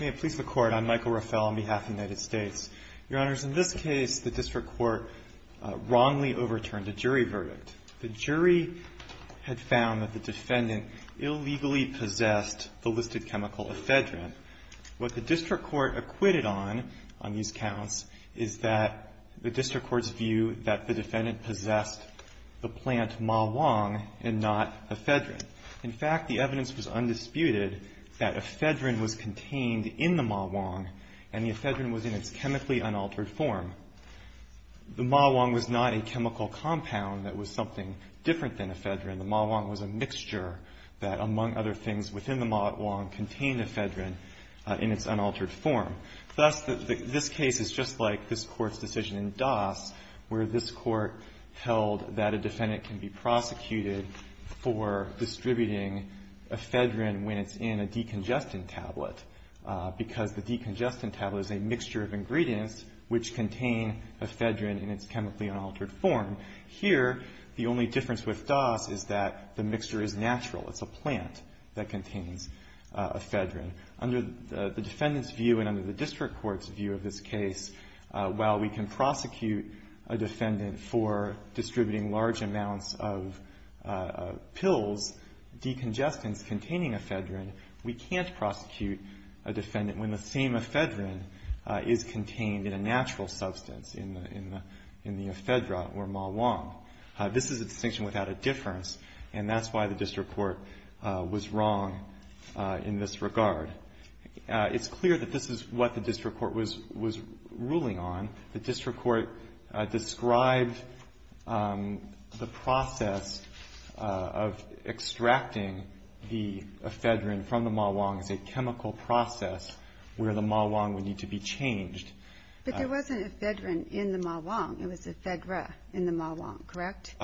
May it please the Court, I'm Michael Rafel on behalf of the United States. Your Honors, in this case, the District Court wrongly overturned a jury verdict. The jury had found that the defendant illegally possessed the listed chemical ephedrine. What the District Court acquitted on, on these counts, is that the District Court's view that the defendant possessed the plant Mah-Wong and not ephedrine. In fact, the evidence was undisputed that ephedrine was contained in the Mah-Wong and the ephedrine was in its chemically unaltered form. The Mah-Wong was not a chemical compound that was something different than ephedrine. The Mah-Wong was a mixture that, among other things within the Mah-Wong, contained ephedrine in its unaltered form. Thus, this case is just like this Court's decision in Das where this Court held that a defendant can be prosecuted for distributing ephedrine when it's in a decongestant tablet, because the decongestant tablet is a mixture of ingredients which contain ephedrine in its chemically unaltered form. Here, the only difference with Das is that the mixture is natural. It's a plant that contains ephedrine. Under the defendant's view and under the District Court's view of this case, while we can prosecute a defendant for distributing large amounts of pills, decongestants containing ephedrine, we can't prosecute a defendant when the same ephedrine is contained in a natural substance in the ephedra or Mah-Wong. This is a distinction without a difference, and that's why the District Court was wrong in this regard. It's clear that this is what the District Court was ruling on. The District Court described the process of extracting the ephedrine from the Mah-Wong as a chemical process where the Mah-Wong would need to be changed. But there wasn't ephedrine in the Mah-Wong. It was ephedra in the Mah-Wong, correct?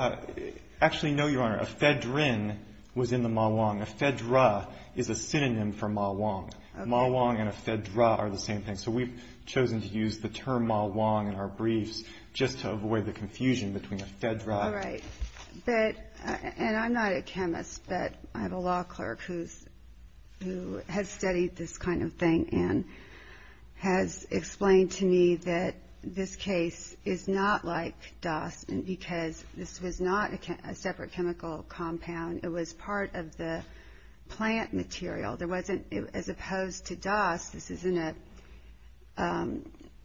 Actually, no, Your Honor. Ephedrine was in the Mah-Wong. Ephedra is a synonym for Mah-Wong. Mah-Wong and ephedra are the same thing, so we've chosen to use the term Mah-Wong in our briefs just to avoid the confusion between ephedra. All right. And I'm not a chemist, but I have a law clerk who has studied this kind of thing and has explained to me that this case is not like DAS because this was not a separate chemical compound. It was part of the plant material. As opposed to DAS,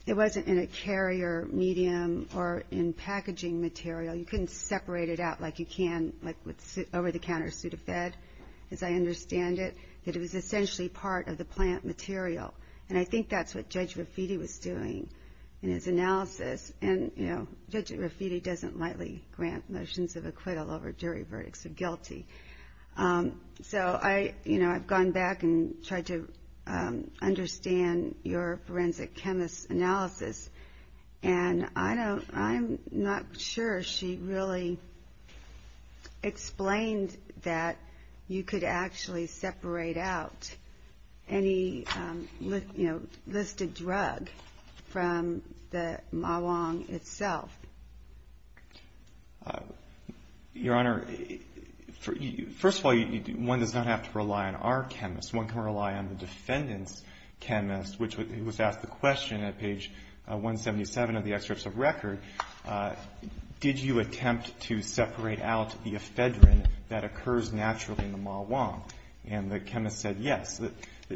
it wasn't in a carrier medium or in packaging material. You couldn't separate it out like you can with an over-the-counter Sudafed, as I understand it. It was essentially part of the plant material, and I think that's what Judge Raffitti was doing in his analysis. And Judge Raffitti doesn't lightly grant motions of acquittal over jury verdicts of guilty. So I've gone back and tried to understand your forensic chemist's analysis, and I'm not sure she really explained that you could actually separate out any listed drug from the Mah-Wong itself. Your Honor, first of all, one does not have to rely on our chemist. One can rely on the defendant's chemist, which was asked the question at page 177 of the excerpts of record, did you attempt to separate out the ephedrine that occurs naturally in the Mah-Wong? And the chemist said yes.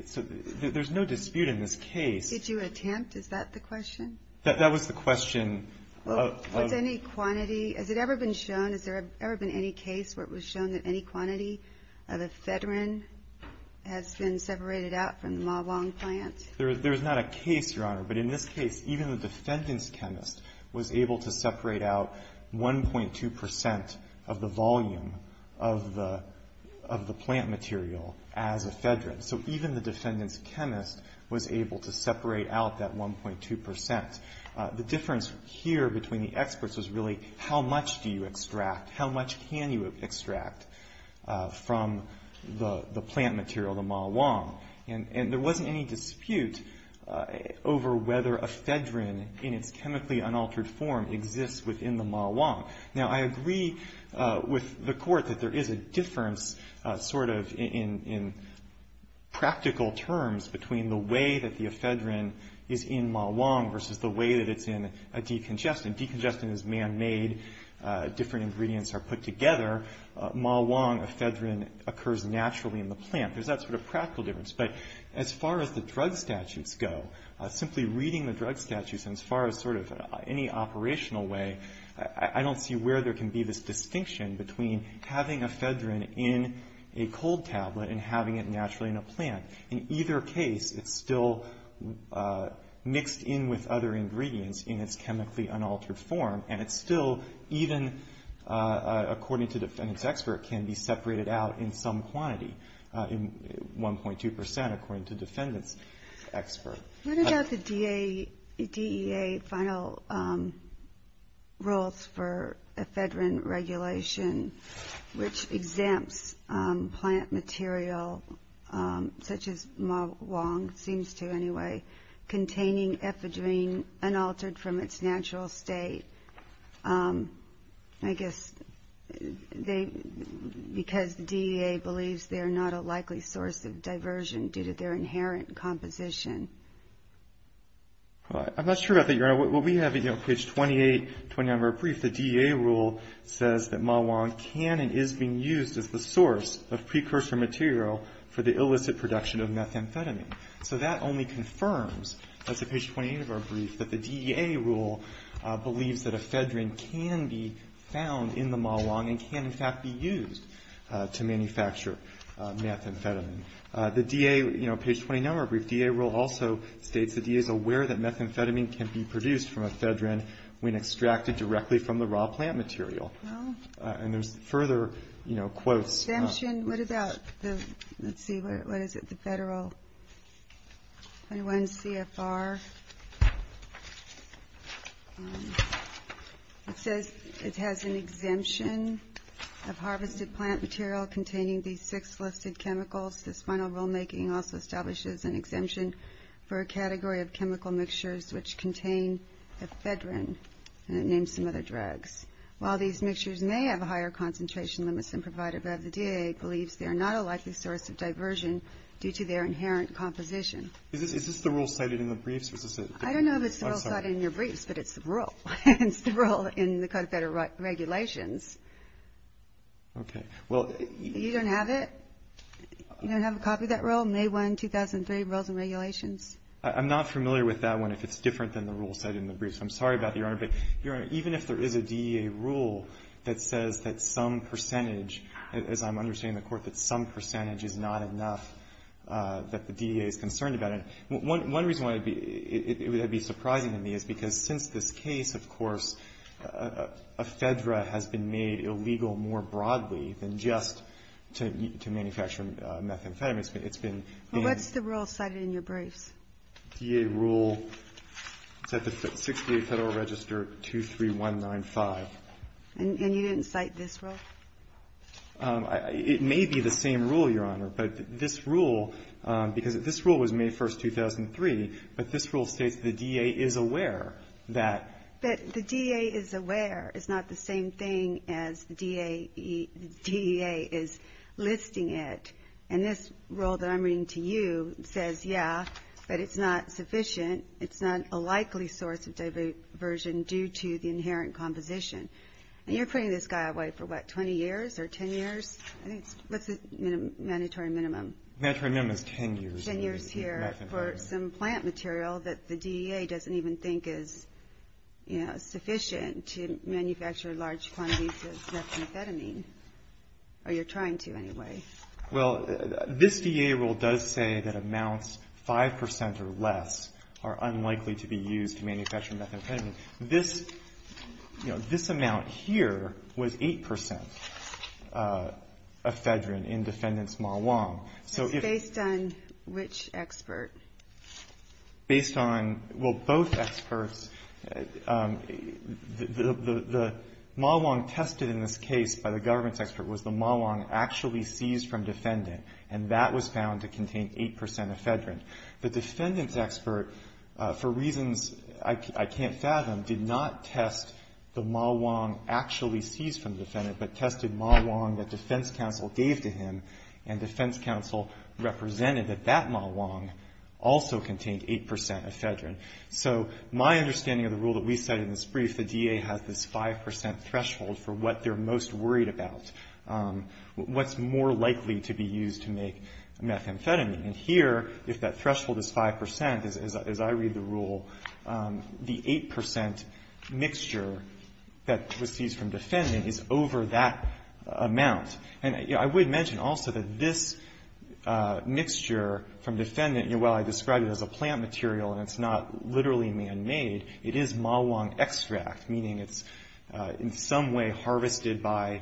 So there's no dispute in this case. Did you attempt? Is that the question? That was the question. Was any quantity, has it ever been shown, has there ever been any case where it was shown that any quantity of ephedrine has been separated out from the Mah-Wong plant? There is not a case, Your Honor, but in this case, even the defendant's chemist was able to separate out 1.2 percent of the volume of the plant material as ephedrine. So even the defendant's chemist was able to separate out that 1.2 percent. The difference here between the experts was really how much do you extract, how much can you extract from the plant material, the Mah-Wong. And there wasn't any dispute over whether ephedrine in its chemically unaltered form exists within the Mah-Wong. Now, I agree with the court that there is a difference sort of in practical terms between the way that the ephedrine is in Mah-Wong versus the way that it's in a decongestant. A decongestant is man-made. Different ingredients are put together. Mah-Wong ephedrine occurs naturally in the plant. There's that sort of practical difference. But as far as the drug statutes go, simply reading the drug statutes and as far as sort of any operational way, I don't see where there can be this distinction between having ephedrine in a cold tablet and having it naturally in a plant. In either case, it's still mixed in with other ingredients in its chemically unaltered form, and it's still even, according to defendant's expert, can be separated out in some quantity, in 1.2 percent according to defendant's expert. What about the DEA final rules for ephedrine regulation, which exempts plant material such as Mah-Wong, seems to anyway, containing ephedrine unaltered from its natural state? I guess they, because the DEA believes they're not a likely source of diversion due to their inherent composition. I'm not sure about that, Your Honor. What we have, you know, page 28, 29 of our brief, the DEA rule says that Mah-Wong can and is being used as the source of precursor material for the illicit production of methamphetamine. So that only confirms, as of page 28 of our brief, that the DEA rule believes that ephedrine can be found in the Mah-Wong and can, in fact, be used to manufacture methamphetamine. The DEA, you know, page 29 of our brief, DEA rule also states the DEA is aware that methamphetamine can be produced from ephedrine when extracted directly from the raw plant material. Exemption, what about the, let's see, what is it, the Federal 21 CFR? It says it has an exemption of harvested plant material containing these six listed chemicals. The final rulemaking also establishes an exemption for a category of chemical mixtures which contain ephedrine, and it names some other drugs. While these mixtures may have a higher concentration limit than provided by the DEA, it believes they are not a likely source of diversion due to their inherent composition. Is this the rule cited in the briefs? I don't know if it's the rule cited in your briefs, but it's the rule. It's the rule in the Code of Federal Regulations. Okay. Well, you don't have it? You don't have a copy of that rule, May 1, 2003, Rules and Regulations? I'm not familiar with that one, if it's different than the rule cited in the briefs. I'm sorry about that, Your Honor, but, Your Honor, even if there is a DEA rule that says that some percentage, as I'm understanding the Court, that some percentage is not enough, that the DEA is concerned about it, one reason why it would be surprising to me is because since this case, of course, ephedra has been made illegal more broadly than just to manufacture methamphetamine. It's been named. Well, what's the rule cited in your briefs? The DEA rule, it's at the 6th DA Federal Register 23195. And you didn't cite this rule? It may be the same rule, Your Honor, but this rule, because this rule was May 1, 2003, but this rule states the DEA is aware that the DEA is aware. It's not the same thing as DEA is listing it. And this rule that I'm reading to you says, yeah, but it's not sufficient. It's not a likely source of diversion due to the inherent composition. And you're putting this guy away for, what, 20 years or 10 years? What's the mandatory minimum? The mandatory minimum is 10 years. Ten years here for some plant material that the DEA doesn't even think is sufficient to manufacture large quantities of methamphetamine, or you're trying to anyway. Well, this DEA rule does say that amounts 5 percent or less are unlikely to be used to manufacture methamphetamine. This, you know, this amount here was 8 percent ephedrine in defendant's Mawang. Based on which expert? Based on, well, both experts. The Mawang tested in this case by the government's expert was the Mawang actually seized from defendant, and that was found to contain 8 percent ephedrine. The defendant's expert, for reasons I can't fathom, did not test the Mawang actually seized from defendant, but tested Mawang that defense counsel gave to him. And defense counsel represented that that Mawang also contained 8 percent ephedrine. So my understanding of the rule that we cite in this brief, the DEA has this 5 percent threshold for what they're most worried about. What's more likely to be used to make methamphetamine? And here, if that threshold is 5 percent, as I read the rule, the 8 percent mixture that was seized from defendant is over that amount. And I would mention also that this mixture from defendant, while I describe it as a plant material and it's not literally man-made, it is Mawang extract, meaning it's in some way harvested by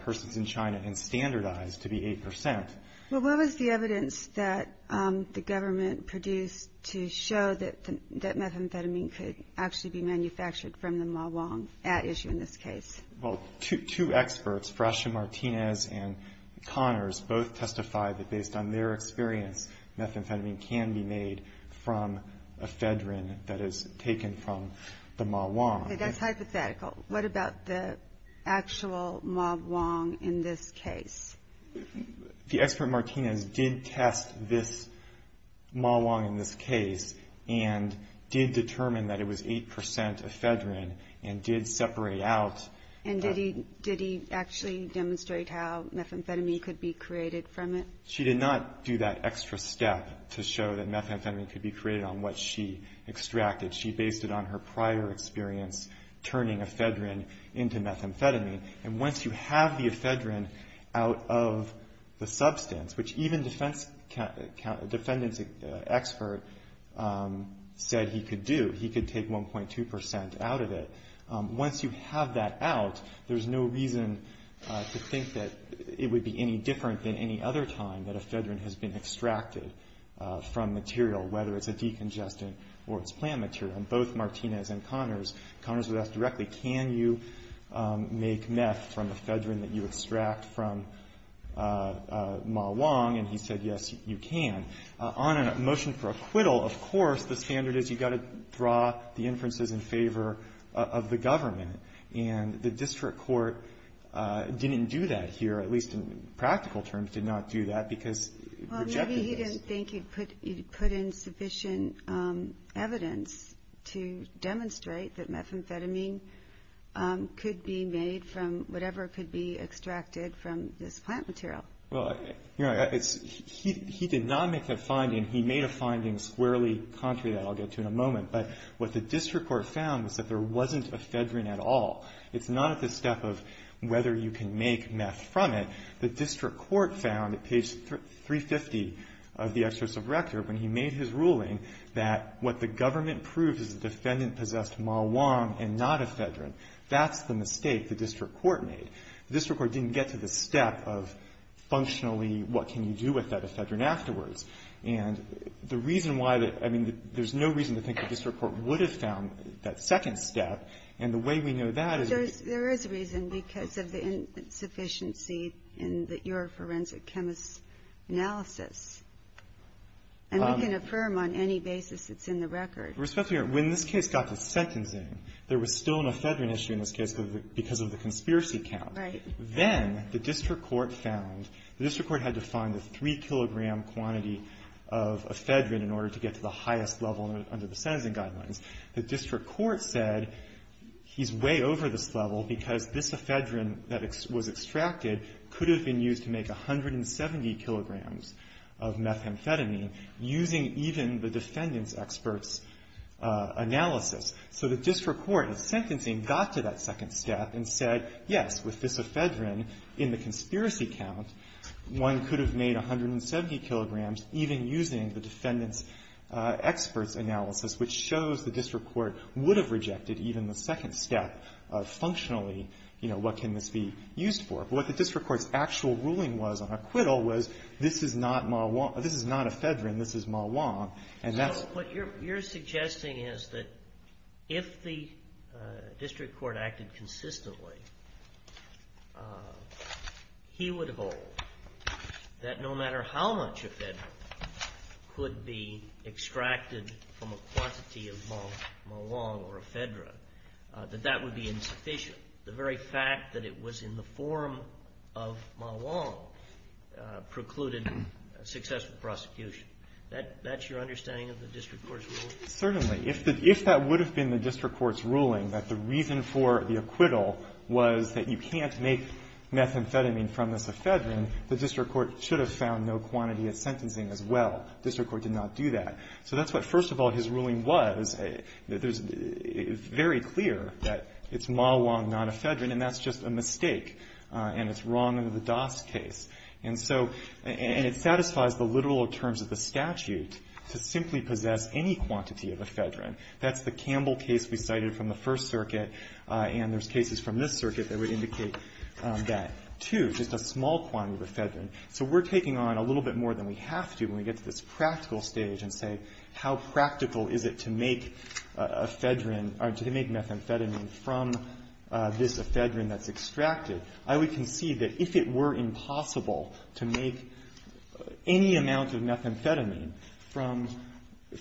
persons in China and standardized to be 8 percent. Well, what was the evidence that the government produced to show that methamphetamine could actually be manufactured from the Mawang at issue in this case? Well, two experts, Frascia Martinez and Connors, both testified that based on their experience, methamphetamine can be made from ephedrine that is taken from the Mawang. That's hypothetical. What about the actual Mawang in this case? The expert Martinez did test this Mawang in this case and did determine that it was 8 percent ephedrine and did separate out. And did he actually demonstrate how methamphetamine could be created from it? She did not do that extra step to show that methamphetamine could be created on what she extracted. She based it on her prior experience turning ephedrine into methamphetamine. And once you have the ephedrine out of the substance, which even the defendant's expert said he could do, he could take 1.2 percent out of it. Once you have that out, there's no reason to think that it would be any different than any other time that ephedrine has been extracted from material, whether it's a decongestant or it's plant material. And both Martinez and Connors, Connors would ask directly, can you make meth from ephedrine that you extract from Mawang? And he said, yes, you can. On a motion for acquittal, of course, the standard is you've got to draw the inferences in favor of the government. And the district court didn't do that here, at least in practical terms, did not do that because it rejected this. Well, maybe he didn't think he'd put in sufficient evidence to demonstrate that methamphetamine could be made from whatever could be extracted from this plant material. Well, you know, he did not make a finding. He made a finding squarely contrary to that I'll get to in a moment. But what the district court found was that there wasn't ephedrine at all. It's not at the step of whether you can make meth from it. The district court found at page 350 of the Excerpt of Rector when he made his ruling that what the government proved is the defendant possessed Mawang and not ephedrine. That's the mistake the district court made. The district court didn't get to the step of functionally what can you do with that ephedrine afterwards. And the reason why the – I mean, there's no reason to think the district court would have found that second step. And the way we know that is because of the insufficiency in your forensic chemist's analysis. And we can affirm on any basis it's in the record. Respectfully, when this case got to sentencing, there was still an ephedrine issue in this case because of the conspiracy count. Right. Then the district court found – the district court had to find the 3-kilogram quantity of ephedrine in order to get to the highest level under the sentencing guidelines. The district court said he's way over this level because this ephedrine that was extracted could have been used to make 170 kilograms of methamphetamine using even the defendant's expert's analysis. So the district court, in sentencing, got to that second step and said, yes, with this ephedrine, in the conspiracy count, one could have made 170 kilograms even using the defendant's expert's analysis, which shows the district court would have rejected even the second step of functionally, you know, what can this be used for. But what the district court's actual ruling was on acquittal was this is not ephedrine. This is Ma Wong. And that's – So what you're suggesting is that if the district court acted consistently, he would hold that no matter how much ephedrine could be extracted from a quantity of Ma Wong or ephedrine, that that would be insufficient. The very fact that it was in the form of Ma Wong precluded successful prosecution. That's your understanding of the district court's ruling? Certainly. If that would have been the district court's ruling, that the reason for the acquittal was that you can't make methamphetamine from this ephedrine, the district court should have found no quantity of sentencing as well. The district court did not do that. So that's what, first of all, his ruling was. It's very clear that it's Ma Wong, not ephedrine. And that's just a mistake. And it's wrong under the Doss case. And so – and it satisfies the literal terms of the statute to simply possess any quantity of ephedrine. That's the Campbell case we cited from the First Circuit. And there's cases from this circuit that would indicate that, too, just a small quantity of ephedrine. So we're taking on a little bit more than we have to when we get to this practical stage and say, how practical is it to make ephedrine – or to make methamphetamine from this ephedrine that's extracted? I would concede that if it were impossible to make any amount of methamphetamine from the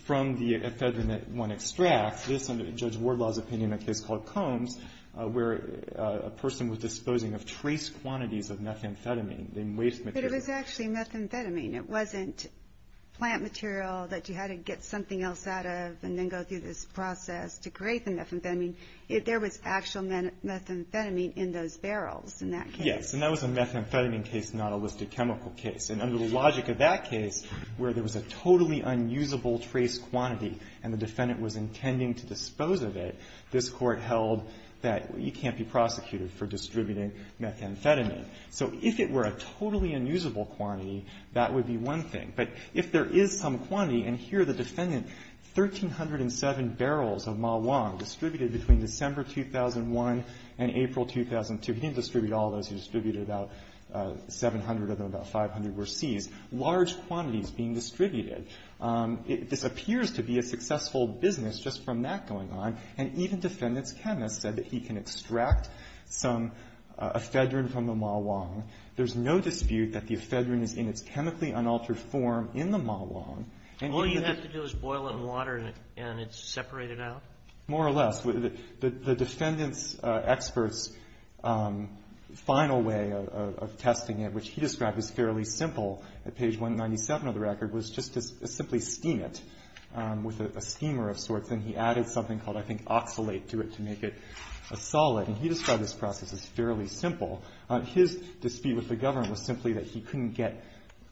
ephedrine that one extracts, this under Judge Wardlaw's opinion in a case called Combs, where a person was disposing of trace quantities of methamphetamine, the waste material. But it was actually methamphetamine. It wasn't plant material that you had to get something else out of and then go through this process to create the methamphetamine. There was actual methamphetamine in those barrels in that case. Yes. And that was a methamphetamine case, not a listed chemical case. And under the logic of that case, where there was a totally unusable trace quantity and the defendant was intending to dispose of it, this Court held that you can't be prosecuted for distributing methamphetamine. So if it were a totally unusable quantity, that would be one thing. But if there is some quantity, and here the defendant, 1,307 barrels of Mah-Wong distributed between December 2001 and April 2002. He didn't distribute all of those. He distributed about 700 of them. About 500 were seized. Large quantities being distributed. This appears to be a successful business just from that going on. And even defendant's chemist said that he can extract some ephedrine from the Mah-Wong. There's no dispute that the ephedrine is in its chemically unaltered form in the Mah-Wong. All you have to do is boil it in water and it's separated out? More or less. The defendant's expert's final way of testing it, which he described as fairly simple at page 197 of the record, was just to simply steam it with a steamer of sorts. And he added something called, I think, oxalate to it to make it a solid. And he described this process as fairly simple. His dispute with the government was simply that he couldn't get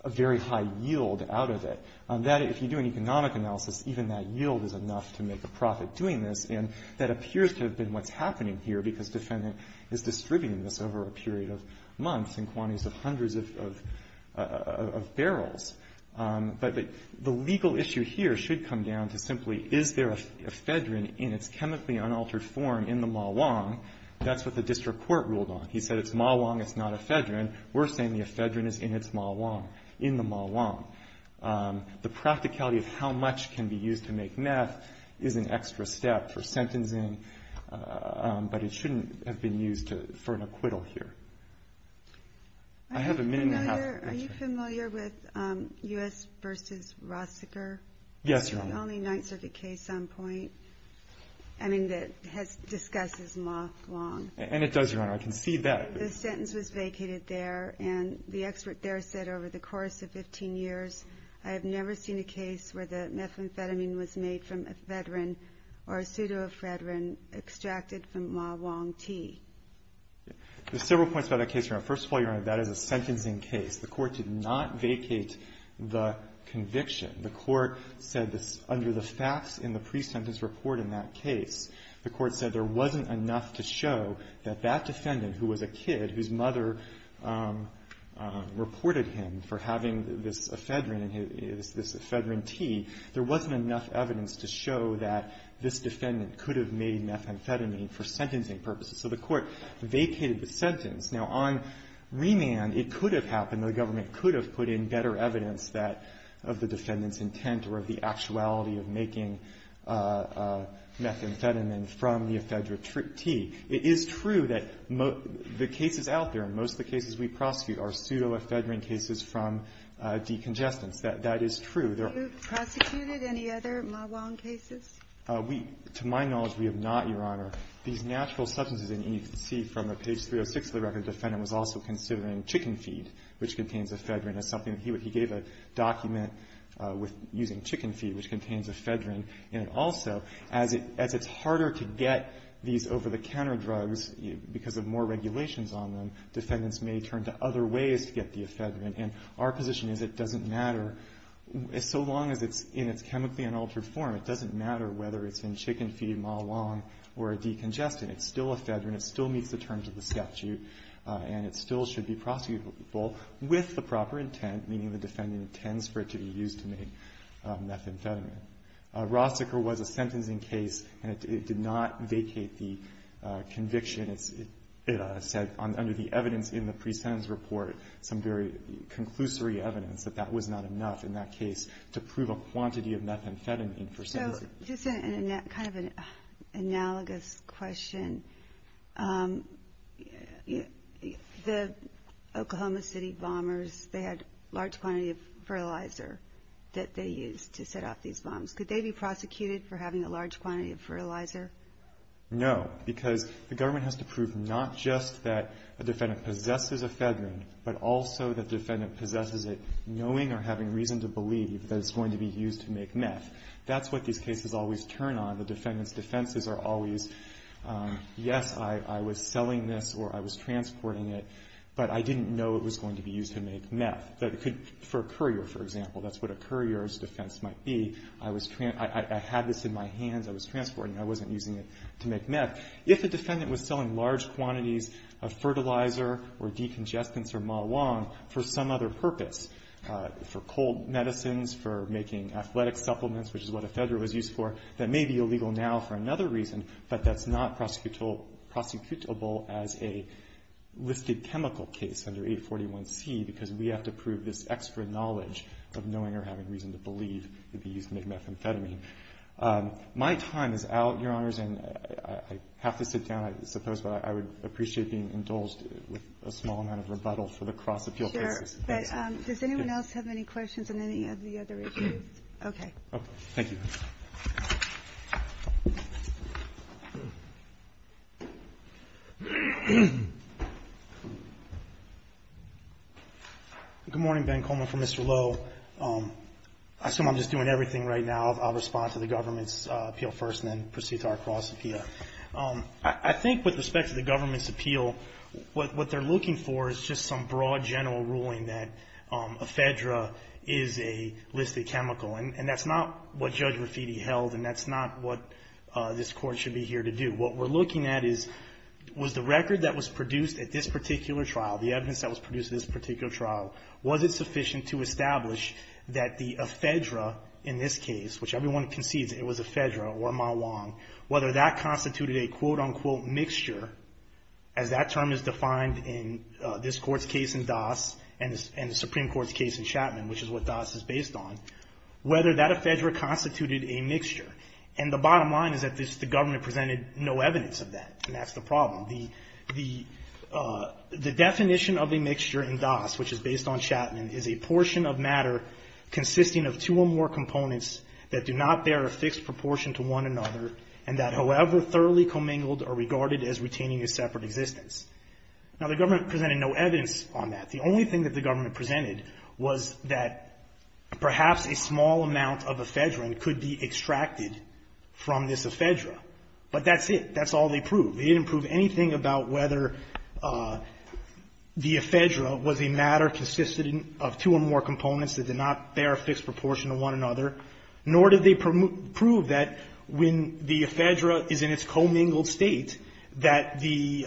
a very high yield out of it. That, if you do an economic analysis, even that yield is enough to make a profit doing this. And that appears to have been what's happening here because defendant is distributing this over a period of months in quantities of hundreds of barrels. But the legal issue here should come down to simply is there ephedrine in its chemically unaltered form in the Mah-Wong? That's what the district court ruled on. He said it's Mah-Wong, it's not ephedrine. We're saying the ephedrine is in its Mah-Wong, in the Mah-Wong. The practicality of how much can be used to make meth is an extra step for sentencing, but it shouldn't have been used for an acquittal here. I have a minute and a half. Are you familiar with U.S. v. Rossiger? Yes, Your Honor. It's the only Ninth Circuit case on point, I mean, that discusses Mah-Wong. And it does, Your Honor. I can see that. The sentence was vacated there, and the expert there said over the course of 15 years, I have never seen a case where the methamphetamine was made from ephedrine or a pseudoephedrine extracted from Mah-Wong tea. There's several points about that case, Your Honor. First of all, Your Honor, that is a sentencing case. The court did not vacate the conviction. The court said under the facts in the pre-sentence report in that case, the court said there wasn't enough to show that that defendant, who was a kid, whose mother reported him for having this ephedrine tea, there wasn't enough evidence to show that this defendant could have made methamphetamine for sentencing purposes. So the court vacated the sentence. Now, on remand, it could have happened, the government could have put in better evidence of the defendant's intent or of the actuality of making methamphetamine from the ephedrine tea. It is true that the cases out there, and most of the cases we prosecute, are pseudoephedrine cases from decongestants. That is true. There are no other cases. To my knowledge, we have not, Your Honor. These natural substances, and you can see from page 306 of the record, the defendant was also considering chicken feed, which contains ephedrine, as something that he gave a document using chicken feed, which contains ephedrine in it also. As it's harder to get these over-the-counter drugs because of more regulations on them, defendants may turn to other ways to get the ephedrine. And our position is it doesn't matter, so long as it's in its chemically unaltered form, it doesn't matter whether it's in chicken feed, Ma Long, or a decongestant. It's still ephedrine. It still meets the terms of the statute, and it still should be prosecutable with the proper intent, meaning the defendant intends for it to be used to make methamphetamine. Rossiker was a sentencing case, and it did not vacate the conviction. It said under the evidence in the pre-sentence report some very conclusory evidence that that was not enough in that case to prove a quantity of methamphetamine for sentencing. Just kind of an analogous question. The Oklahoma City bombers, they had a large quantity of fertilizer that they used to set off these bombs. Could they be prosecuted for having a large quantity of fertilizer? No, because the government has to prove not just that a defendant possesses ephedrine, but also that the defendant possesses it knowing or having reason to believe that it's going to be used to make meth. That's what these cases always turn on. The defendant's defenses are always, yes, I was selling this or I was transporting it, but I didn't know it was going to be used to make meth. For a courier, for example, that's what a courier's defense might be. I had this in my hands. I was transporting it. I wasn't using it to make meth. If the defendant was selling large quantities of fertilizer or decongestants or Ma Wong for some other purpose, for cold medicines, for making athletic supplements, which is what ephedrine was used for, that may be illegal now for another reason, but that's not prosecutable as a listed chemical case under 841C because we have to prove this extra knowledge of knowing or having reason to believe it would be used to make methamphetamine. My time is out, Your Honors, and I have to sit down, I suppose, but I would appreciate being indulged with a small amount of rebuttal for the cross-appeal cases. Thank you, Mr. Chair. Does anyone else have any questions on any of the other issues? Okay. Thank you. Good morning. Ben Coleman for Mr. Lowe. I assume I'm just doing everything right now. I'll respond to the government's appeal first and then proceed to our cross-appeal. I think with respect to the government's appeal, what they're looking for is just some broad general ruling that ephedra is a listed chemical. And that's not what Judge Rafiti held, and that's not what this Court should be here to do. What we're looking at is, was the record that was produced at this particular trial, the evidence that was produced at this particular trial, was it sufficient to establish that the ephedra in this case, which everyone concedes it was ephedra or Mahlon, whether that and the Supreme Court's case in Chapman, which is what Doss is based on, whether that ephedra constituted a mixture. And the bottom line is that the government presented no evidence of that. And that's the problem. The definition of a mixture in Doss, which is based on Chapman, is a portion of matter consisting of two or more components that do not bear a fixed proportion to one another and that, however thoroughly commingled or regarded as retaining a separate existence. Now, the government presented no evidence on that. The only thing that the government presented was that perhaps a small amount of ephedra could be extracted from this ephedra. But that's it. That's all they proved. They didn't prove anything about whether the ephedra was a matter consisting of two or more components that did not bear a fixed proportion to one another, nor did they prove that when the ephedra is in its commingled state, that the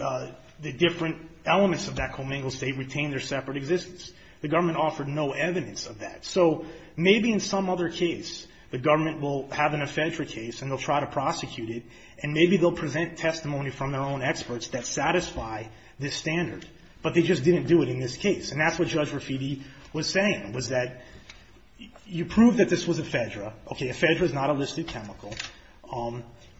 different elements of that commingled state retain their separate existence. The government offered no evidence of that. So maybe in some other case, the government will have an ephedra case and they'll try to prosecute it, and maybe they'll present testimony from their own experts that satisfy this standard. But they just didn't do it in this case. And that's what Judge Raffidi was saying, was that you prove that this was ephedra. Okay, ephedra is not a listed chemical.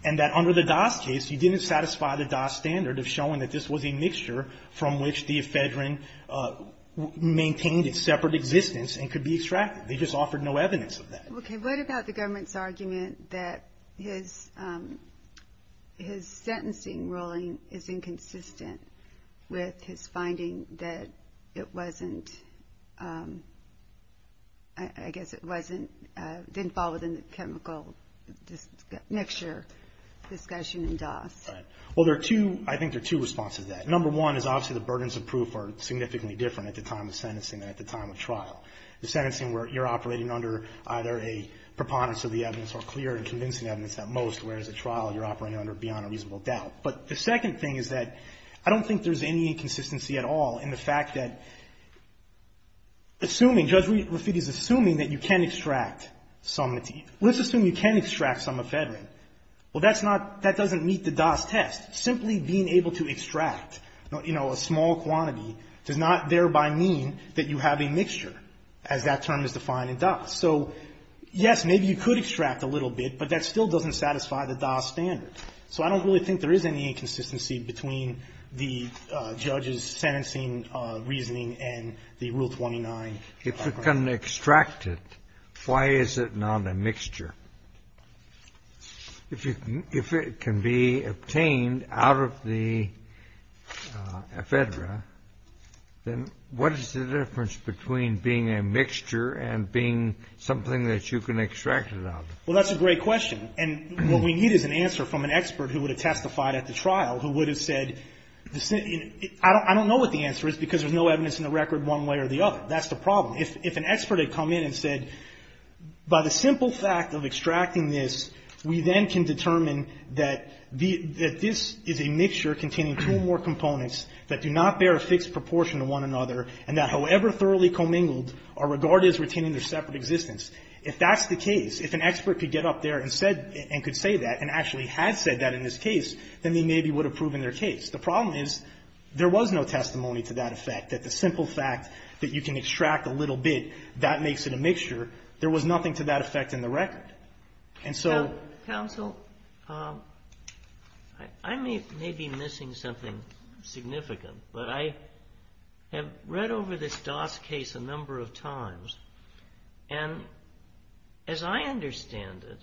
And that under the DAS case, you didn't satisfy the DAS standard of showing that this was a mixture from which the ephedra maintained its separate existence and could be extracted. They just offered no evidence of that. Okay, what about the government's argument that his sentencing ruling is inconsistent with his finding that it wasn't, I guess it wasn't, didn't fall within the chemical mixture discussion in DAS? Right. Well, there are two, I think there are two responses to that. Number one is obviously the burdens of proof are significantly different at the time of sentencing than at the time of trial. The sentencing where you're operating under either a preponderance of the evidence or clear and convincing evidence at most, whereas at trial you're operating under beyond a reasonable doubt. But the second thing is that I don't think there's any inconsistency at all in the fact that assuming, Judge Rafiti's assuming that you can extract some, let's assume you can extract some ephedra. Well, that's not, that doesn't meet the DAS test. Simply being able to extract, you know, a small quantity does not thereby mean that you have a mixture, as that term is defined in DAS. So, yes, maybe you could extract a little bit, but that still doesn't satisfy the DAS standard. So I don't really think there is any inconsistency between the judge's sentencing reasoning and the Rule 29. If you can extract it, why is it not a mixture? If it can be obtained out of the ephedra, then what is the difference between being a mixture and being something that you can extract it out of? Well, that's a great question. And what we need is an answer from an expert who would have testified at the trial, who would have said, I don't know what the answer is because there's no evidence in the record one way or the other. That's the problem. If an expert had come in and said, by the simple fact of extracting this, we then can determine that this is a mixture containing two or more components that do not bear a fixed proportion to one another, and that however thoroughly commingled, are regarded as retaining their separate existence. If that's the case, if an expert could get up there and said, and could say that, and actually had said that in this case, then they maybe would have proven their case. The problem is there was no testimony to that effect, that the simple fact that you can extract a little bit, that makes it a mixture. There was nothing to that effect in the record. And so ---- As I understand it,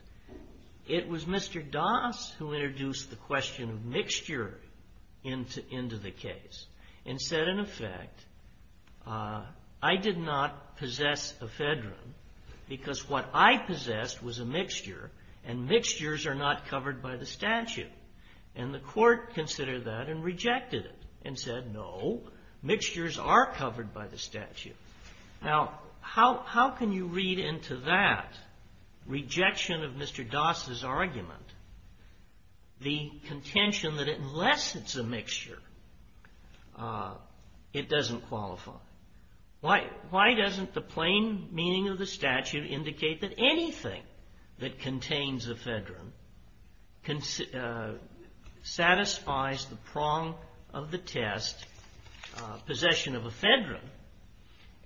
it was Mr. Das who introduced the question of mixture into the case and said, in effect, I did not possess ephedrine because what I possessed was a mixture and mixtures are not covered by the statute. And the court considered that and rejected it and said, no, mixtures are covered by the statute. Now, how can you read into that rejection of Mr. Das' argument the contention that unless it's a mixture, it doesn't qualify? Why doesn't the plain meaning of the statute indicate that anything that contains possession of ephedrine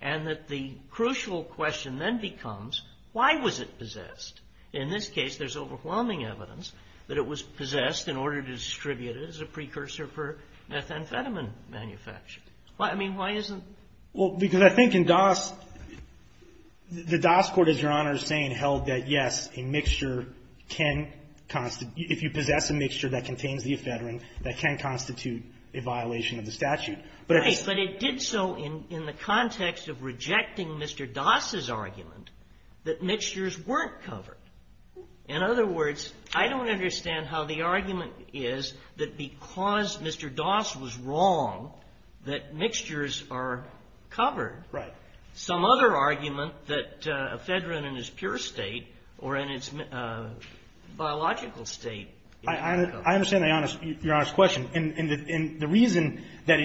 and that the crucial question then becomes, why was it possessed? In this case, there's overwhelming evidence that it was possessed in order to distribute it as a precursor for methamphetamine manufacture. I mean, why isn't ---- Well, because I think in Das, the Das court, as Your Honor is saying, held that, yes, a mixture can ---- if you possess a mixture that contains the ephedrine, that can constitute a violation of the statute. But if it's ---- Right. But it did so in the context of rejecting Mr. Das' argument that mixtures weren't covered. In other words, I don't understand how the argument is that because Mr. Das was wrong that mixtures are covered. Right. Some other argument that ephedrine in its pure state or in its biological state is covered. I understand Your Honor's question. And the reason that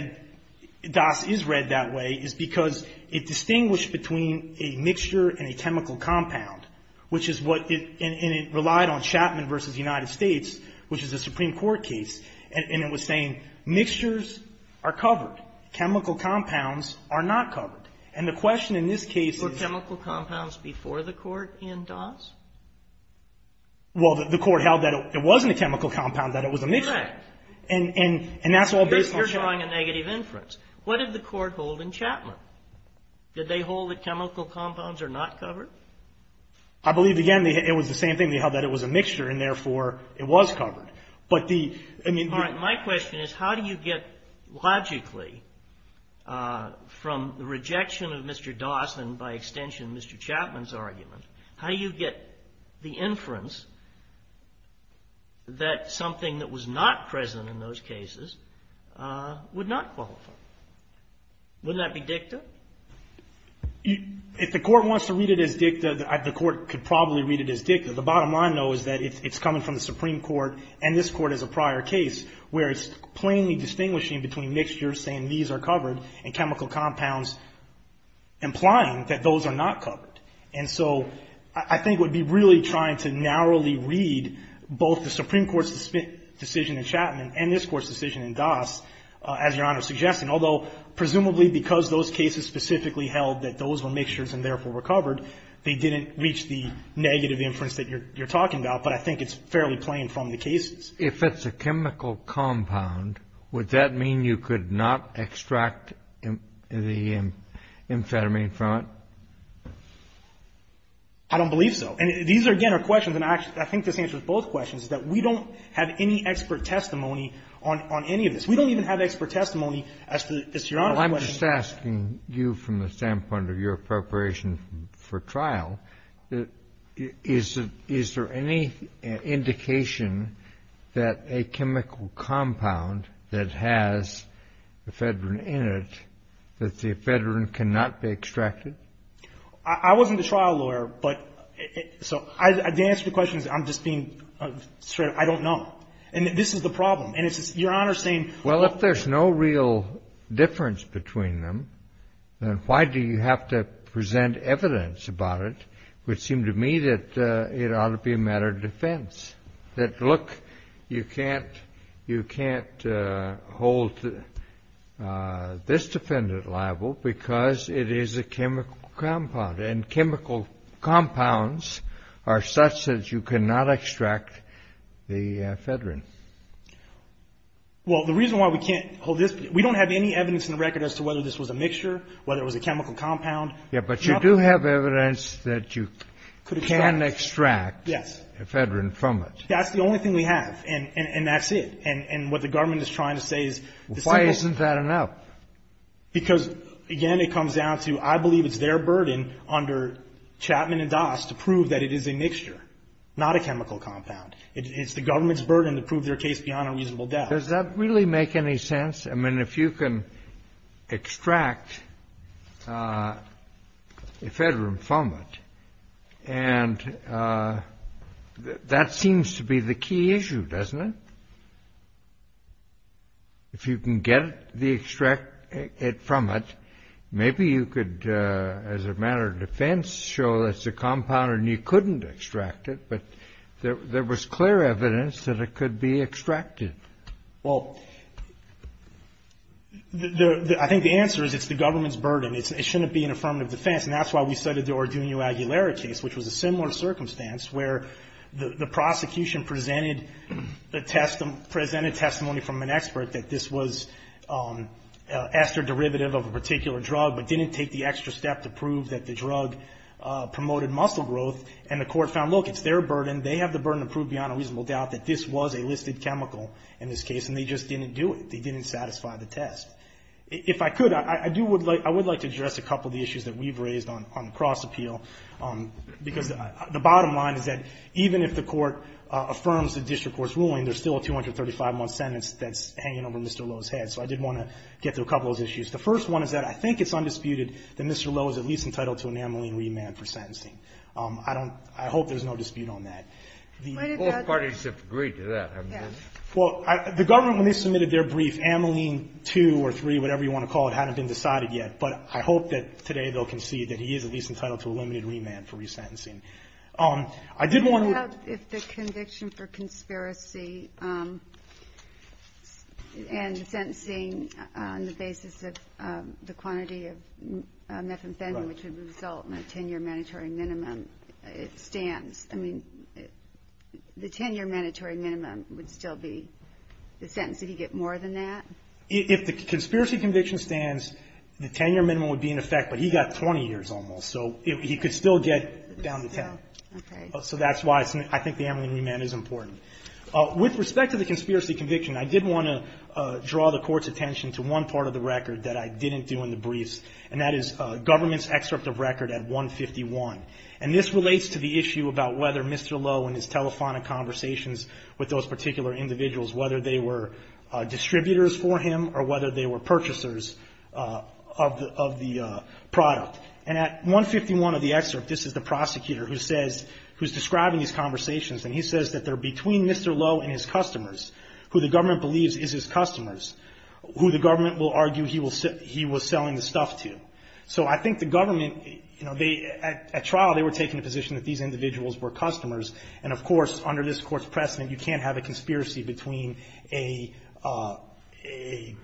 Das is read that way is because it distinguished between a mixture and a chemical compound, which is what it ---- and it relied on Chapman v. United States, which is a Supreme Court case. And it was saying mixtures are covered. Chemical compounds are not covered. And the question in this case is ---- Were chemical compounds before the court in Das? Well, the court held that it wasn't a chemical compound, that it was a mixture. Right. And that's all based on ---- You're drawing a negative inference. What did the court hold in Chapman? Did they hold that chemical compounds are not covered? I believe, again, it was the same thing. They held that it was a mixture, and therefore it was covered. But the ---- All right. My question is, how do you get, logically, from the rejection of Mr. Das and, by extension, Mr. Chapman's argument, how do you get the inference that something that was not present in those cases would not qualify? Wouldn't that be dicta? If the court wants to read it as dicta, the court could probably read it as dicta. The bottom line, though, is that it's coming from the Supreme Court and this Court as a prior case, where it's plainly distinguishing between mixtures, saying these are covered, and chemical compounds, implying that those are not covered. And so I think it would be really trying to narrowly read both the Supreme Court's decision in Chapman and this Court's decision in Das, as Your Honor suggested. Although, presumably because those cases specifically held that those were mixtures and therefore were covered, they didn't reach the negative inference that you're talking about. But I think it's fairly plain from the cases. If it's a chemical compound, would that mean you could not extract the amphetamine from it? I don't believe so. And these, again, are questions, and I think this answers both questions, is that we don't have any expert testimony on any of this. We don't even have expert testimony as to Your Honor's question. I'm just asking you from the standpoint of your preparation for trial, is there any indication that a chemical compound that has ephedrine in it, that the ephedrine cannot be extracted? I wasn't a trial lawyer, but so the answer to the question is I'm just being straight up. I don't know. And this is the problem. Well, if there's no real difference between them, then why do you have to present evidence about it? It would seem to me that it ought to be a matter of defense, that, look, you can't hold this defendant liable because it is a chemical compound, and chemical compounds are such that you cannot extract the ephedrine. Well, the reason why we can't hold this, we don't have any evidence in the record as to whether this was a mixture, whether it was a chemical compound. Yes, but you do have evidence that you can extract ephedrine from it. Yes. That's the only thing we have, and that's it. And what the government is trying to say is the simple thing. Why isn't that enough? Because, again, it comes down to I believe it's their burden under Chapman and Das to prove that it is a mixture, not a chemical compound. It's the government's burden to prove their case beyond a reasonable doubt. Does that really make any sense? I mean, if you can extract ephedrine from it, and that seems to be the key issue, doesn't it? If you can get it from it, maybe you could, as a matter of defense, show that it's a compound and you couldn't extract it, but there was clear evidence that it could be extracted. Well, I think the answer is it's the government's burden. It shouldn't be an affirmative defense, and that's why we started the Orduno Aguilera case, which was a similar circumstance where the prosecution presented the testimony, presented testimony from an expert that this was ester derivative of a particular drug, but didn't take the extra step to prove that the drug promoted muscle growth. And the court found, look, it's their burden. They have the burden to prove beyond a reasonable doubt that this was a listed chemical in this case, and they just didn't do it. They didn't satisfy the test. If I could, I do would like to address a couple of the issues that we've raised on the cross-appeal, because the bottom line is that even if the Court affirms the district court's ruling, there's still a 235-month sentence that's hanging over Mr. Lowe's head. So I did want to get to a couple of those issues. The first one is that I think it's undisputed that Mr. Lowe is at least entitled to an amyline remand for sentencing. I don't – I hope there's no dispute on that. Both parties have agreed to that, haven't they? Well, the government, when they submitted their brief, amyline 2 or 3, whatever you want to call it, hadn't been decided yet. But I hope that today they'll concede that he is at least entitled to a limited remand for resentencing. I did want to – What about if the conviction for conspiracy and sentencing on the basis of the quantity of methamphetamine, which would result in a 10-year mandatory minimum, it stands? I mean, the 10-year mandatory minimum would still be the sentence. Did he get more than that? If the conspiracy conviction stands, the 10-year minimum would be in effect, but he got 20 years almost. So he could still get down to 10. Okay. So that's why I think the amyline remand is important. With respect to the conspiracy conviction, I did want to draw the Court's attention to one part of the record that I didn't do in the briefs, and that is government's excerpt of record at 151. And this relates to the issue about whether Mr. Lowe and his telephonic conversations with those particular individuals, whether they were distributors for him or whether they were purchasers of the product. And at 151 of the excerpt, this is the prosecutor who's describing these conversations, and he says that they're between Mr. Lowe and his customers, who the government believes is his customers, who the government will argue he was selling the stuff to. So I think the government, you know, they at trial, they were taking the position that these individuals were customers. And, of course, under this Court's precedent, you can't have a conspiracy between a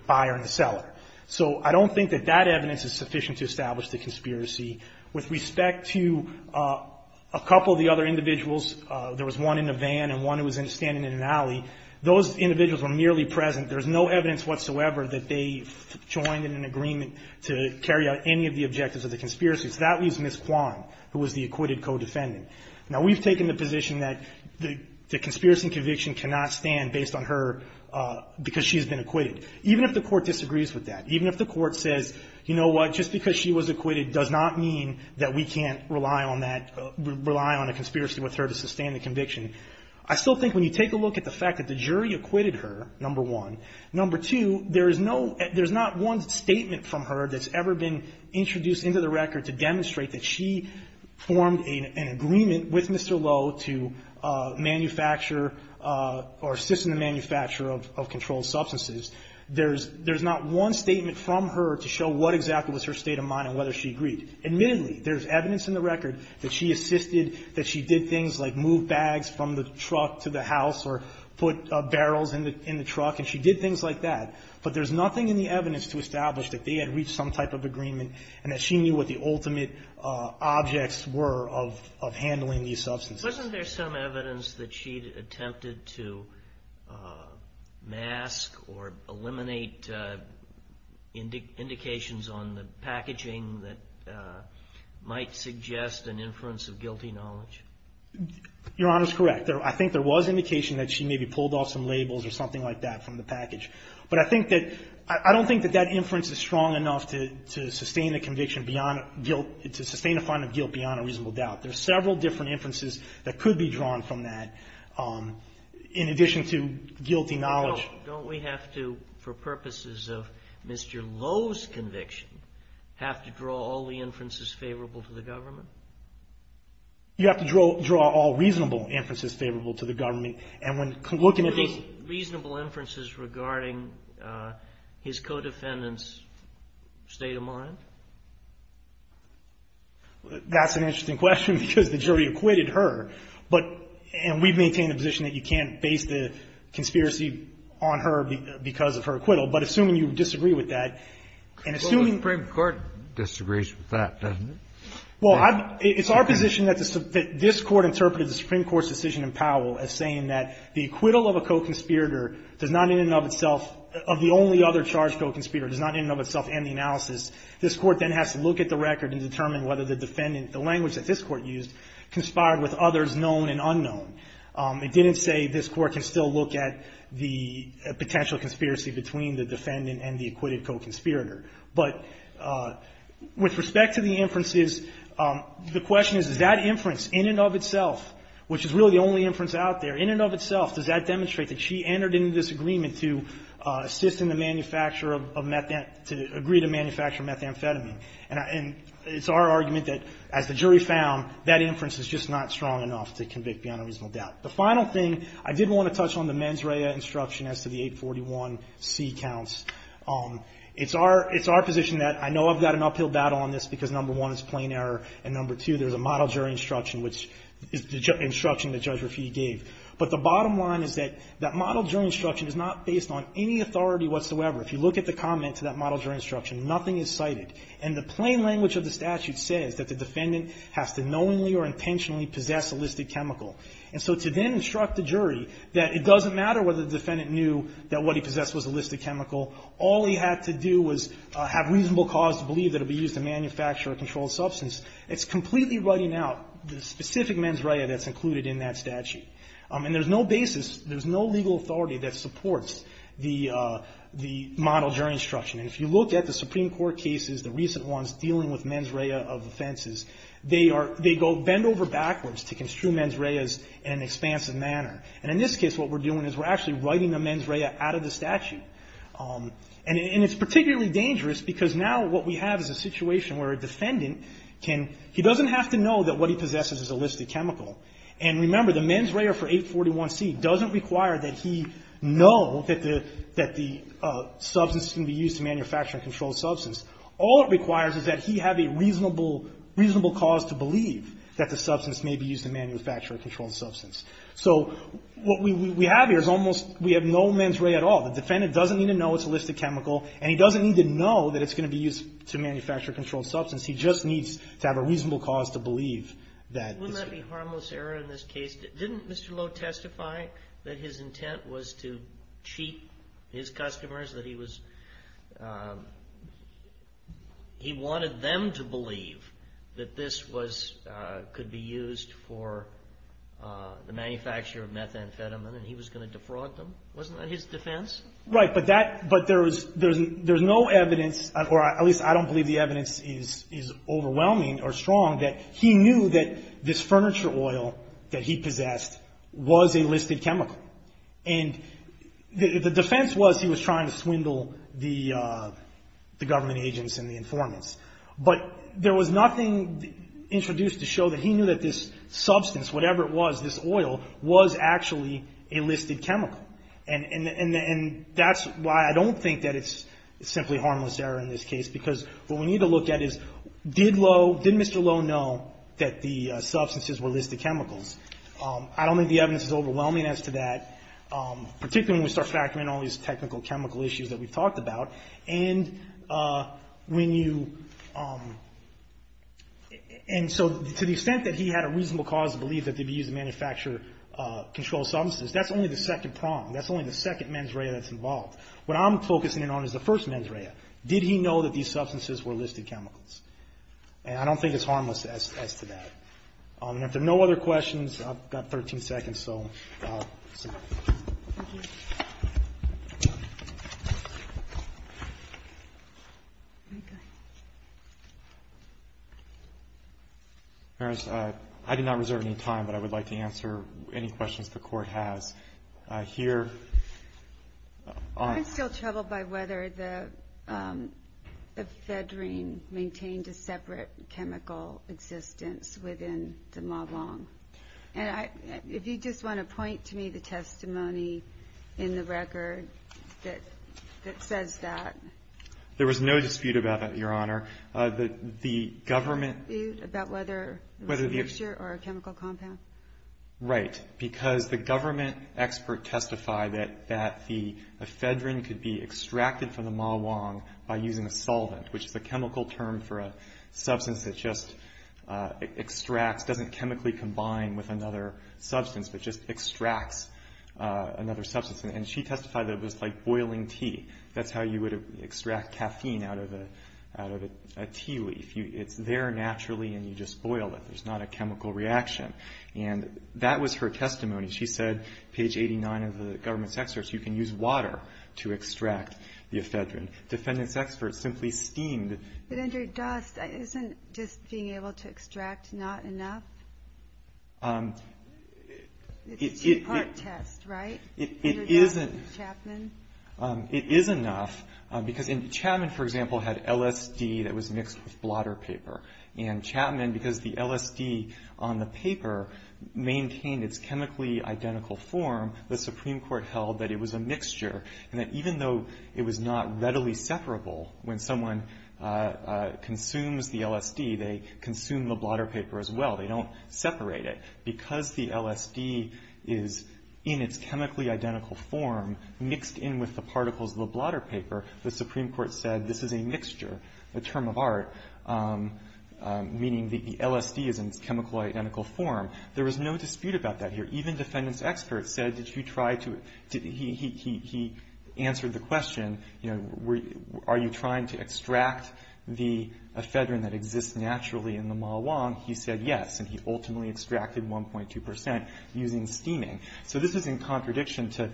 buyer and a seller. So I don't think that that evidence is sufficient to establish the conspiracy. With respect to a couple of the other individuals, there was one in a van and one who was standing in an alley, those individuals were merely present. There's no evidence whatsoever that they joined in an agreement to carry out any of the objectives of the conspiracy. So that leaves Ms. Kwan, who was the acquitted co-defendant. Now, we've taken the position that the conspiracy and conviction cannot stand based on her because she's been acquitted. Even if the Court disagrees with that, even if the Court says, you know what, just because she was acquitted does not mean that we can't rely on that, rely on a conspiracy with her to sustain the conviction. I still think when you take a look at the fact that the jury acquitted her, number one. Number two, there is no, there's not one statement from her that's ever been introduced into the record to demonstrate that she formed an agreement with Mr. Lowe to manufacture or assist in the manufacture of controlled substances. There's not one statement from her to show what exactly was her state of mind and whether she agreed. Admittedly, there's evidence in the record that she assisted, that she did things like move bags from the truck to the house or put barrels in the truck, and she did things like that. But there's nothing in the evidence to establish that they had reached some type of agreement and that she knew what the ultimate objects were of handling these substances. Wasn't there some evidence that she attempted to mask or eliminate indications on the packaging that might suggest an inference of guilty knowledge? Your Honor is correct. I think there was indication that she maybe pulled off some labels or something like that from the package. But I think that, I don't think that that inference is strong enough to sustain a conviction beyond guilt, to sustain a find of guilt beyond a reasonable doubt. There are several different inferences that could be drawn from that, in addition to guilty knowledge. Don't we have to, for purposes of Mr. Lowe's conviction, have to draw all the inferences favorable to the government? You have to draw all reasonable inferences favorable to the government. And when looking at those... You mean reasonable inferences regarding his co-defendant's state of mind? That's an interesting question, because the jury acquitted her. But we've maintained a position that you can't base the conspiracy on her because of her acquittal. But assuming you disagree with that, and assuming... Well, the Supreme Court disagrees with that, doesn't it? Well, it's our position that this Court interpreted the Supreme Court's decision in Powell as saying that the acquittal of a co-conspirator does not in and of itself of the only other charged co-conspirator does not in and of itself and the analysis this Court then has to look at the record and determine whether the defendant, the language that this Court used, conspired with others known and unknown. It didn't say this Court can still look at the potential conspiracy between the defendant and the acquitted co-conspirator. But with respect to the inferences, the question is, does that inference in and of itself, which is really the only inference out there, in and of itself, does that demonstrate that she entered into this agreement to assist in the manufacture of methamphetamine to agree to manufacture methamphetamine? And it's our argument that, as the jury found, that inference is just not strong enough to convict beyond a reasonable doubt. The final thing, I did want to touch on the mens rea instruction as to the 841C counts. It's our position that I know I've got an uphill battle on this because, number one, it's plain error, and, number two, there's a model jury instruction, which is the instruction that Judge Raffiti gave. But the bottom line is that that model jury instruction is not based on any authority whatsoever. If you look at the comment to that model jury instruction, nothing is cited. And the plain language of the statute says that the defendant has to knowingly or intentionally possess a listed chemical. And so to then instruct the jury that it doesn't matter whether the defendant knew that what he possessed was a listed chemical, all he had to do was have reasonable cause to believe that it would be used to manufacture a controlled substance, it's completely writing out the specific mens rea that's included in that statute. And there's no basis, there's no legal authority that supports the model jury instruction. And if you look at the Supreme Court cases, the recent ones dealing with mens rea of offenses, they are they go bend over backwards to construe mens reas in an expansive manner. And in this case, what we're doing is we're actually writing the mens rea out of the statute. And it's particularly dangerous because now what we have is a situation where a defendant can, he doesn't have to know that what he possesses is a listed chemical. And remember, the mens rea for 841C doesn't require that he know that the substance is going to be used to manufacture a controlled substance. All it requires is that he have a reasonable cause to believe that the substance may be used to manufacture a controlled substance. So what we have here is almost, we have no mens rea at all. The defendant doesn't need to know it's a listed chemical, and he doesn't need to know that it's going to be used to manufacture a controlled substance. He just needs to have a reasonable cause to believe that. Wouldn't that be harmless error in this case? Didn't Mr. Lowe testify that his intent was to cheat his customers, that he was, he wanted them to believe that this was, could be used for the manufacture of methamphetamine and he was going to defraud them? Wasn't that his defense? Right. But that, but there was, there's no evidence, or at least I don't believe the evidence is overwhelming or strong that he knew that this furniture oil that he possessed was a listed chemical. And the defense was he was trying to swindle the government agents and the informants. But there was nothing introduced to show that he knew that this substance, whatever it was, this oil, was actually a listed chemical. And that's why I don't think that it's simply harmless error in this case, because what we need to look at is, did Lowe, did Mr. Lowe know that the substances were listed chemicals? I don't think the evidence is overwhelming as to that, particularly when we start factoring in all these technical chemical issues that we've talked about. And when you, and so to the extent that he had a reasonable cause to believe that they'd be used to manufacture controlled substances, that's only the second prong, that's only the second mens rea that's involved. What I'm focusing in on is the first mens rea. Did he know that these substances were listed chemicals? And I don't think it's harmless as to that. And if there are no other questions, I've got 13 seconds, so. Thank you. Maris, I did not reserve any time, but I would like to answer any questions the Court has. I'm still troubled by whether the fedrine maintained a separate chemical existence within the Ma Vong. And if you just want to point to me the testimony in the record that says that. There was no dispute about that, Your Honor. No dispute about whether it was a mixture or a chemical compound? Right. Because the government expert testified that the fedrine could be extracted from the Ma Vong by using a solvent, which is a chemical term for a substance that just extracts, doesn't chemically combine with another substance, but just extracts another substance. And she testified that it was like boiling tea. That's how you would extract caffeine out of a tea leaf. It's there naturally and you just boil it. There's not a chemical reaction. And that was her testimony. She said, page 89 of the government's experts, you can use water to extract the fedrine. Defendant's experts simply steamed. But under dust, isn't just being able to extract not enough? It's a two-part test, right? It isn't. Chapman? It is enough, because Chapman, for example, had LSD that was mixed with blotter paper. And Chapman, because the LSD on the paper maintained its chemically identical form, the Supreme Court held that it was a mixture. And that even though it was not readily separable, when someone consumes the LSD, they consume the blotter paper as well. They don't separate it. Because the LSD is in its chemically identical form, mixed in with the particles of the blotter paper, the Supreme Court said this is a mixture, a term of art, meaning the LSD is in its chemically identical form. There was no dispute about that here. Even defendant's experts said, did you try to – he answered the question, you know, are you trying to extract the fedrine that exists naturally in the malwang? He said yes. And he ultimately extracted 1.2 percent using steaming. So this is in contradiction to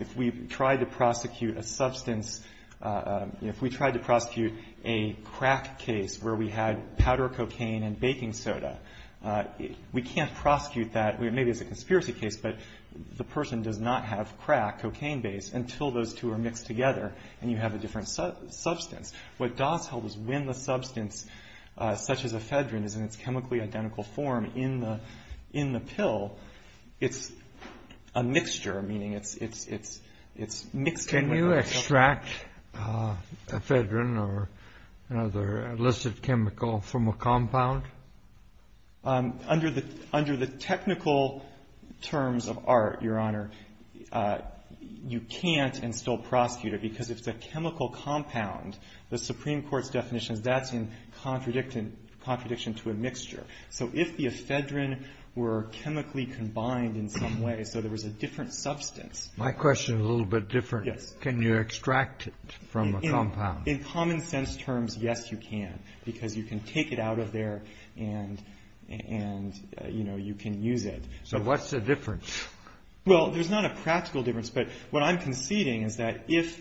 if we tried to prosecute a substance – if we tried to prosecute a crack case where we had powder cocaine and baking soda, we can't prosecute that. Maybe it's a conspiracy case, but the person does not have crack, cocaine-based, until those two are mixed together and you have a different substance. What Dawes held was when the substance, such as a fedrine, is in its chemically identical form in the pill, it's a mixture, meaning it's mixed in with the – Can you extract a fedrine or another illicit chemical from a compound? Under the technical terms of art, Your Honor, you can't and still prosecute it because if it's a chemical compound, the Supreme Court's definition is that's in contradiction to a mixture. So if the fedrine were chemically combined in some way, so there was a different substance – My question is a little bit different. Yes. Can you extract it from a compound? In common sense terms, yes, you can because you can take it out of there and you can use it. So what's the difference? Well, there's not a practical difference, but what I'm conceding is that if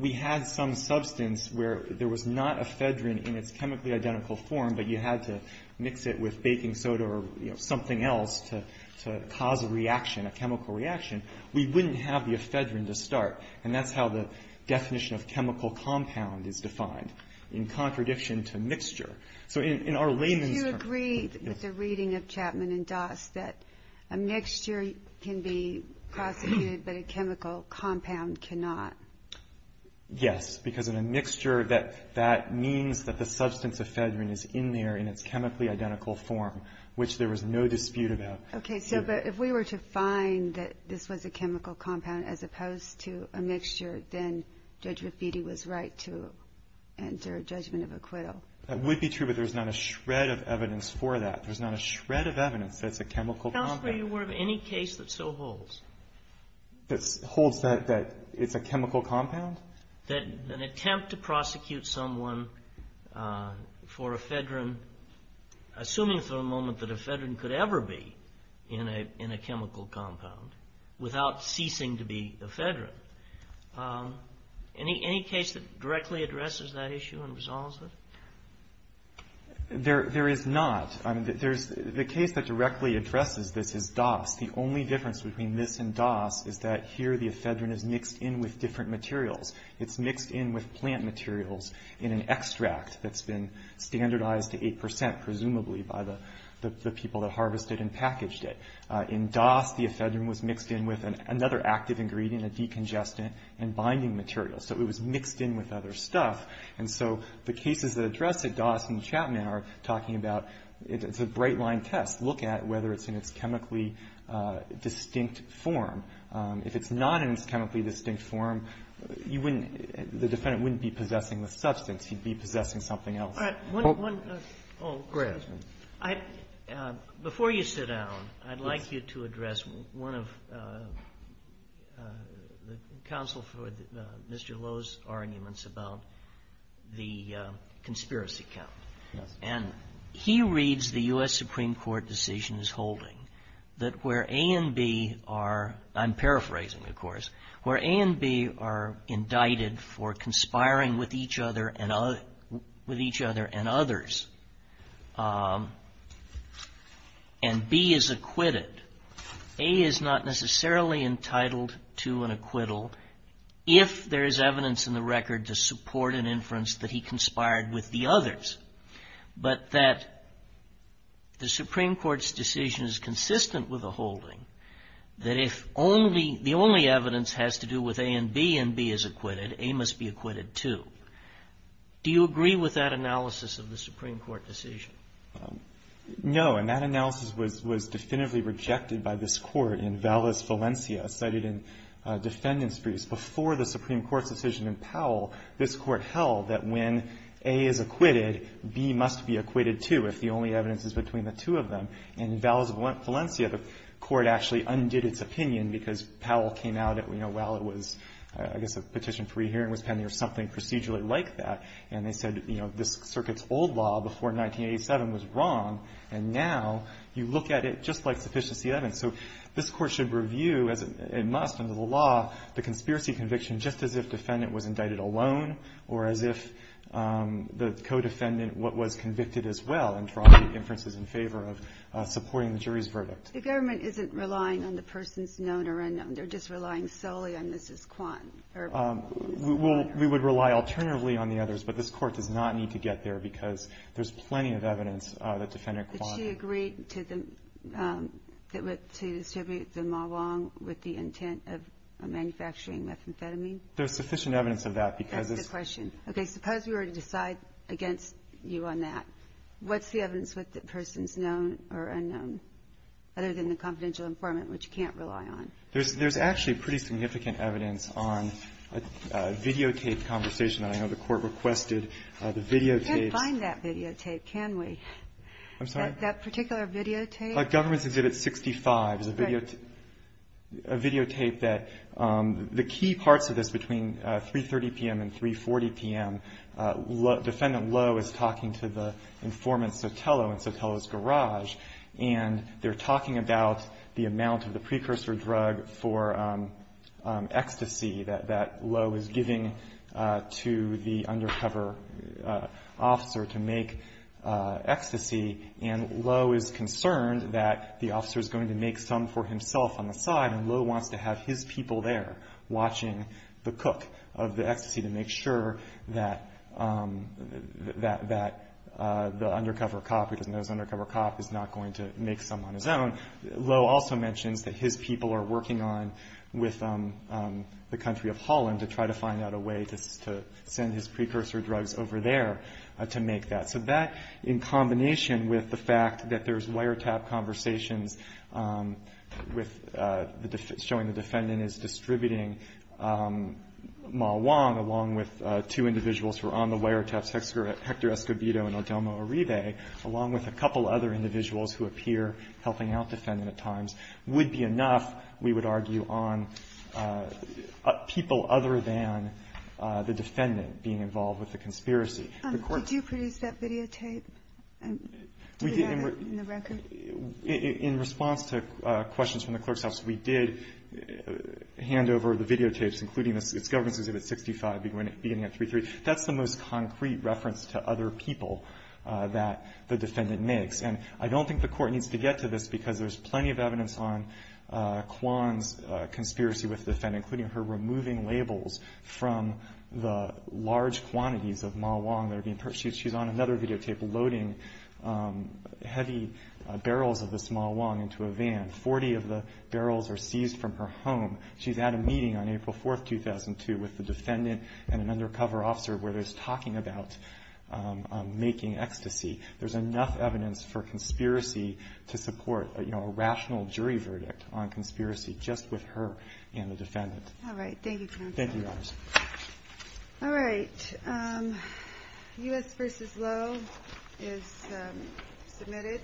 we had some substance where there was not a fedrine in its chemically identical form but you had to mix it with baking soda or something else to cause a reaction, a chemical reaction, we wouldn't have the fedrine to start and that's how the definition of chemical compound is defined, in contradiction to mixture. So in our layman's terms – Do you agree with the reading of Chapman and Dawes that a mixture can be prosecuted but a chemical compound cannot? Yes, because in a mixture that means that the substance of fedrine is in there in its chemically identical form, which there was no dispute about. Okay, so but if we were to find that this was a chemical compound as opposed to a mixture, then Judge Rapitti was right to enter a judgment of acquittal. That would be true, but there's not a shred of evidence for that. There's not a shred of evidence that it's a chemical compound. Tell us where you were of any case that so holds. That holds that it's a chemical compound? That an attempt to prosecute someone for a fedrine, assuming for a moment that a fedrine could ever be in a chemical compound without ceasing to be a fedrine, any case that directly addresses that issue and resolves it? There is not. The case that directly addresses this is Dawes. The only difference between this and Dawes is that here the fedrine is mixed in with different materials. It's mixed in with plant materials in an extract that's been standardized to 8 percent, presumably by the people that harvested and packaged it. In Dawes, the fedrine was mixed in with another active ingredient, a decongestant and binding material. So it was mixed in with other stuff. And so the cases that address it, Dawes and Chapman, are talking about it's a bright-line test. Look at whether it's in its chemically distinct form. If it's not in its chemically distinct form, you wouldn't be possessing the substance. You'd be possessing something else. All right. Oh, go ahead. Before you sit down, I'd like you to address one of the counsel for Mr. Lowe's arguments about the conspiracy count. Yes. And he reads the U.S. Supreme Court decisions holding that where A and B are, I'm paraphrasing, of course, where A and B are indicted for conspiring with each other and others, and B is acquitted. A is not necessarily entitled to an acquittal if there is evidence in the record to support an inference that he conspired with the others. But that the Supreme Court's decision is consistent with the holding that if the only evidence has to do with A and B and B is acquitted, A must be acquitted, too. Do you agree with that analysis of the Supreme Court decision? No. And that analysis was definitively rejected by this Court in Valis, Valencia, cited in defendant's briefs. decision in Powell, this Court held that when A is acquitted, B must be acquitted, too, if the only evidence is between the two of them. And in Valis, Valencia, the Court actually undid its opinion because Powell came out at, you know, well, it was, I guess a petition for re-hearing was pending or something procedurally like that. And they said, you know, this circuit's old law before 1987 was wrong, and now you look at it just like sufficiency evidence. So this Court should review, as it must under the law, the conspiracy conviction just as if defendant was indicted alone or as if the co-defendant was convicted as well and tried inferences in favor of supporting the jury's verdict. The government isn't relying on the person's known or unknown. They're just relying solely on Mrs. Kwan. We would rely alternatively on the others, but this Court does not need to get there because there's plenty of evidence that defendant Kwan. But she agreed to distribute them along with the intent of manufacturing methamphetamine? There's sufficient evidence of that because it's. That's the question. Okay. Suppose we were to decide against you on that. What's the evidence with the person's known or unknown other than the confidential informant, which you can't rely on? There's actually pretty significant evidence on a videotape conversation that I know the Court requested. The videotapes. We can't find that videotape, can we? I'm sorry? That particular videotape? Government's Exhibit 65 is a videotape that the key parts of this between 3.30 p.m. and 3.40 p.m., defendant Lowe is talking to the informant Sotelo in Sotelo's garage, and they're talking about the amount of the precursor drug for ecstasy that Lowe is giving to the undercover officer to make ecstasy, and Lowe is concerned that the officer is going to make some for himself on the side, and Lowe wants to have his people there watching the cook of the ecstasy to make sure that the undercover cop, who doesn't know his undercover cop, is not going to make some on his own. Lowe also mentions that his people are working on with the country of Holland to try to find out a way to send his precursor drugs over there to make that. So that, in combination with the fact that there's wiretap conversations showing the defendant is distributing Ma Wong, along with two individuals who are on the wiretaps, Hector Escobedo and Adelmo Uribe, along with a couple other individuals who appear helping out defendant at times, would be enough, we would argue, on people other than the defendant being involved with the conspiracy. The Court ---- Kagan. Did you produce that videotape and do you have it in the record? In response to questions from the clerk's office, we did hand over the videotapes, including this. It's Government's Exhibit 65, beginning at 3.3. That's the most concrete reference to other people that the defendant makes. And I don't think the Court needs to get to this because there's plenty of evidence on Kwan's conspiracy with the defendant, including her removing labels from the large quantities of Ma Wong that are being purchased. She's on another videotape loading heavy barrels of this Ma Wong into a van. Forty of the barrels are seized from her home. She's at a meeting on April 4, 2002, with the defendant and an undercover officer, where they're talking about making ecstasy. There's enough evidence for conspiracy to support a rational jury verdict on conspiracy just with her and the defendant. All right. Thank you, Counsel. Thank you, Your Honors. All right. U.S. v. Lowe is submitted.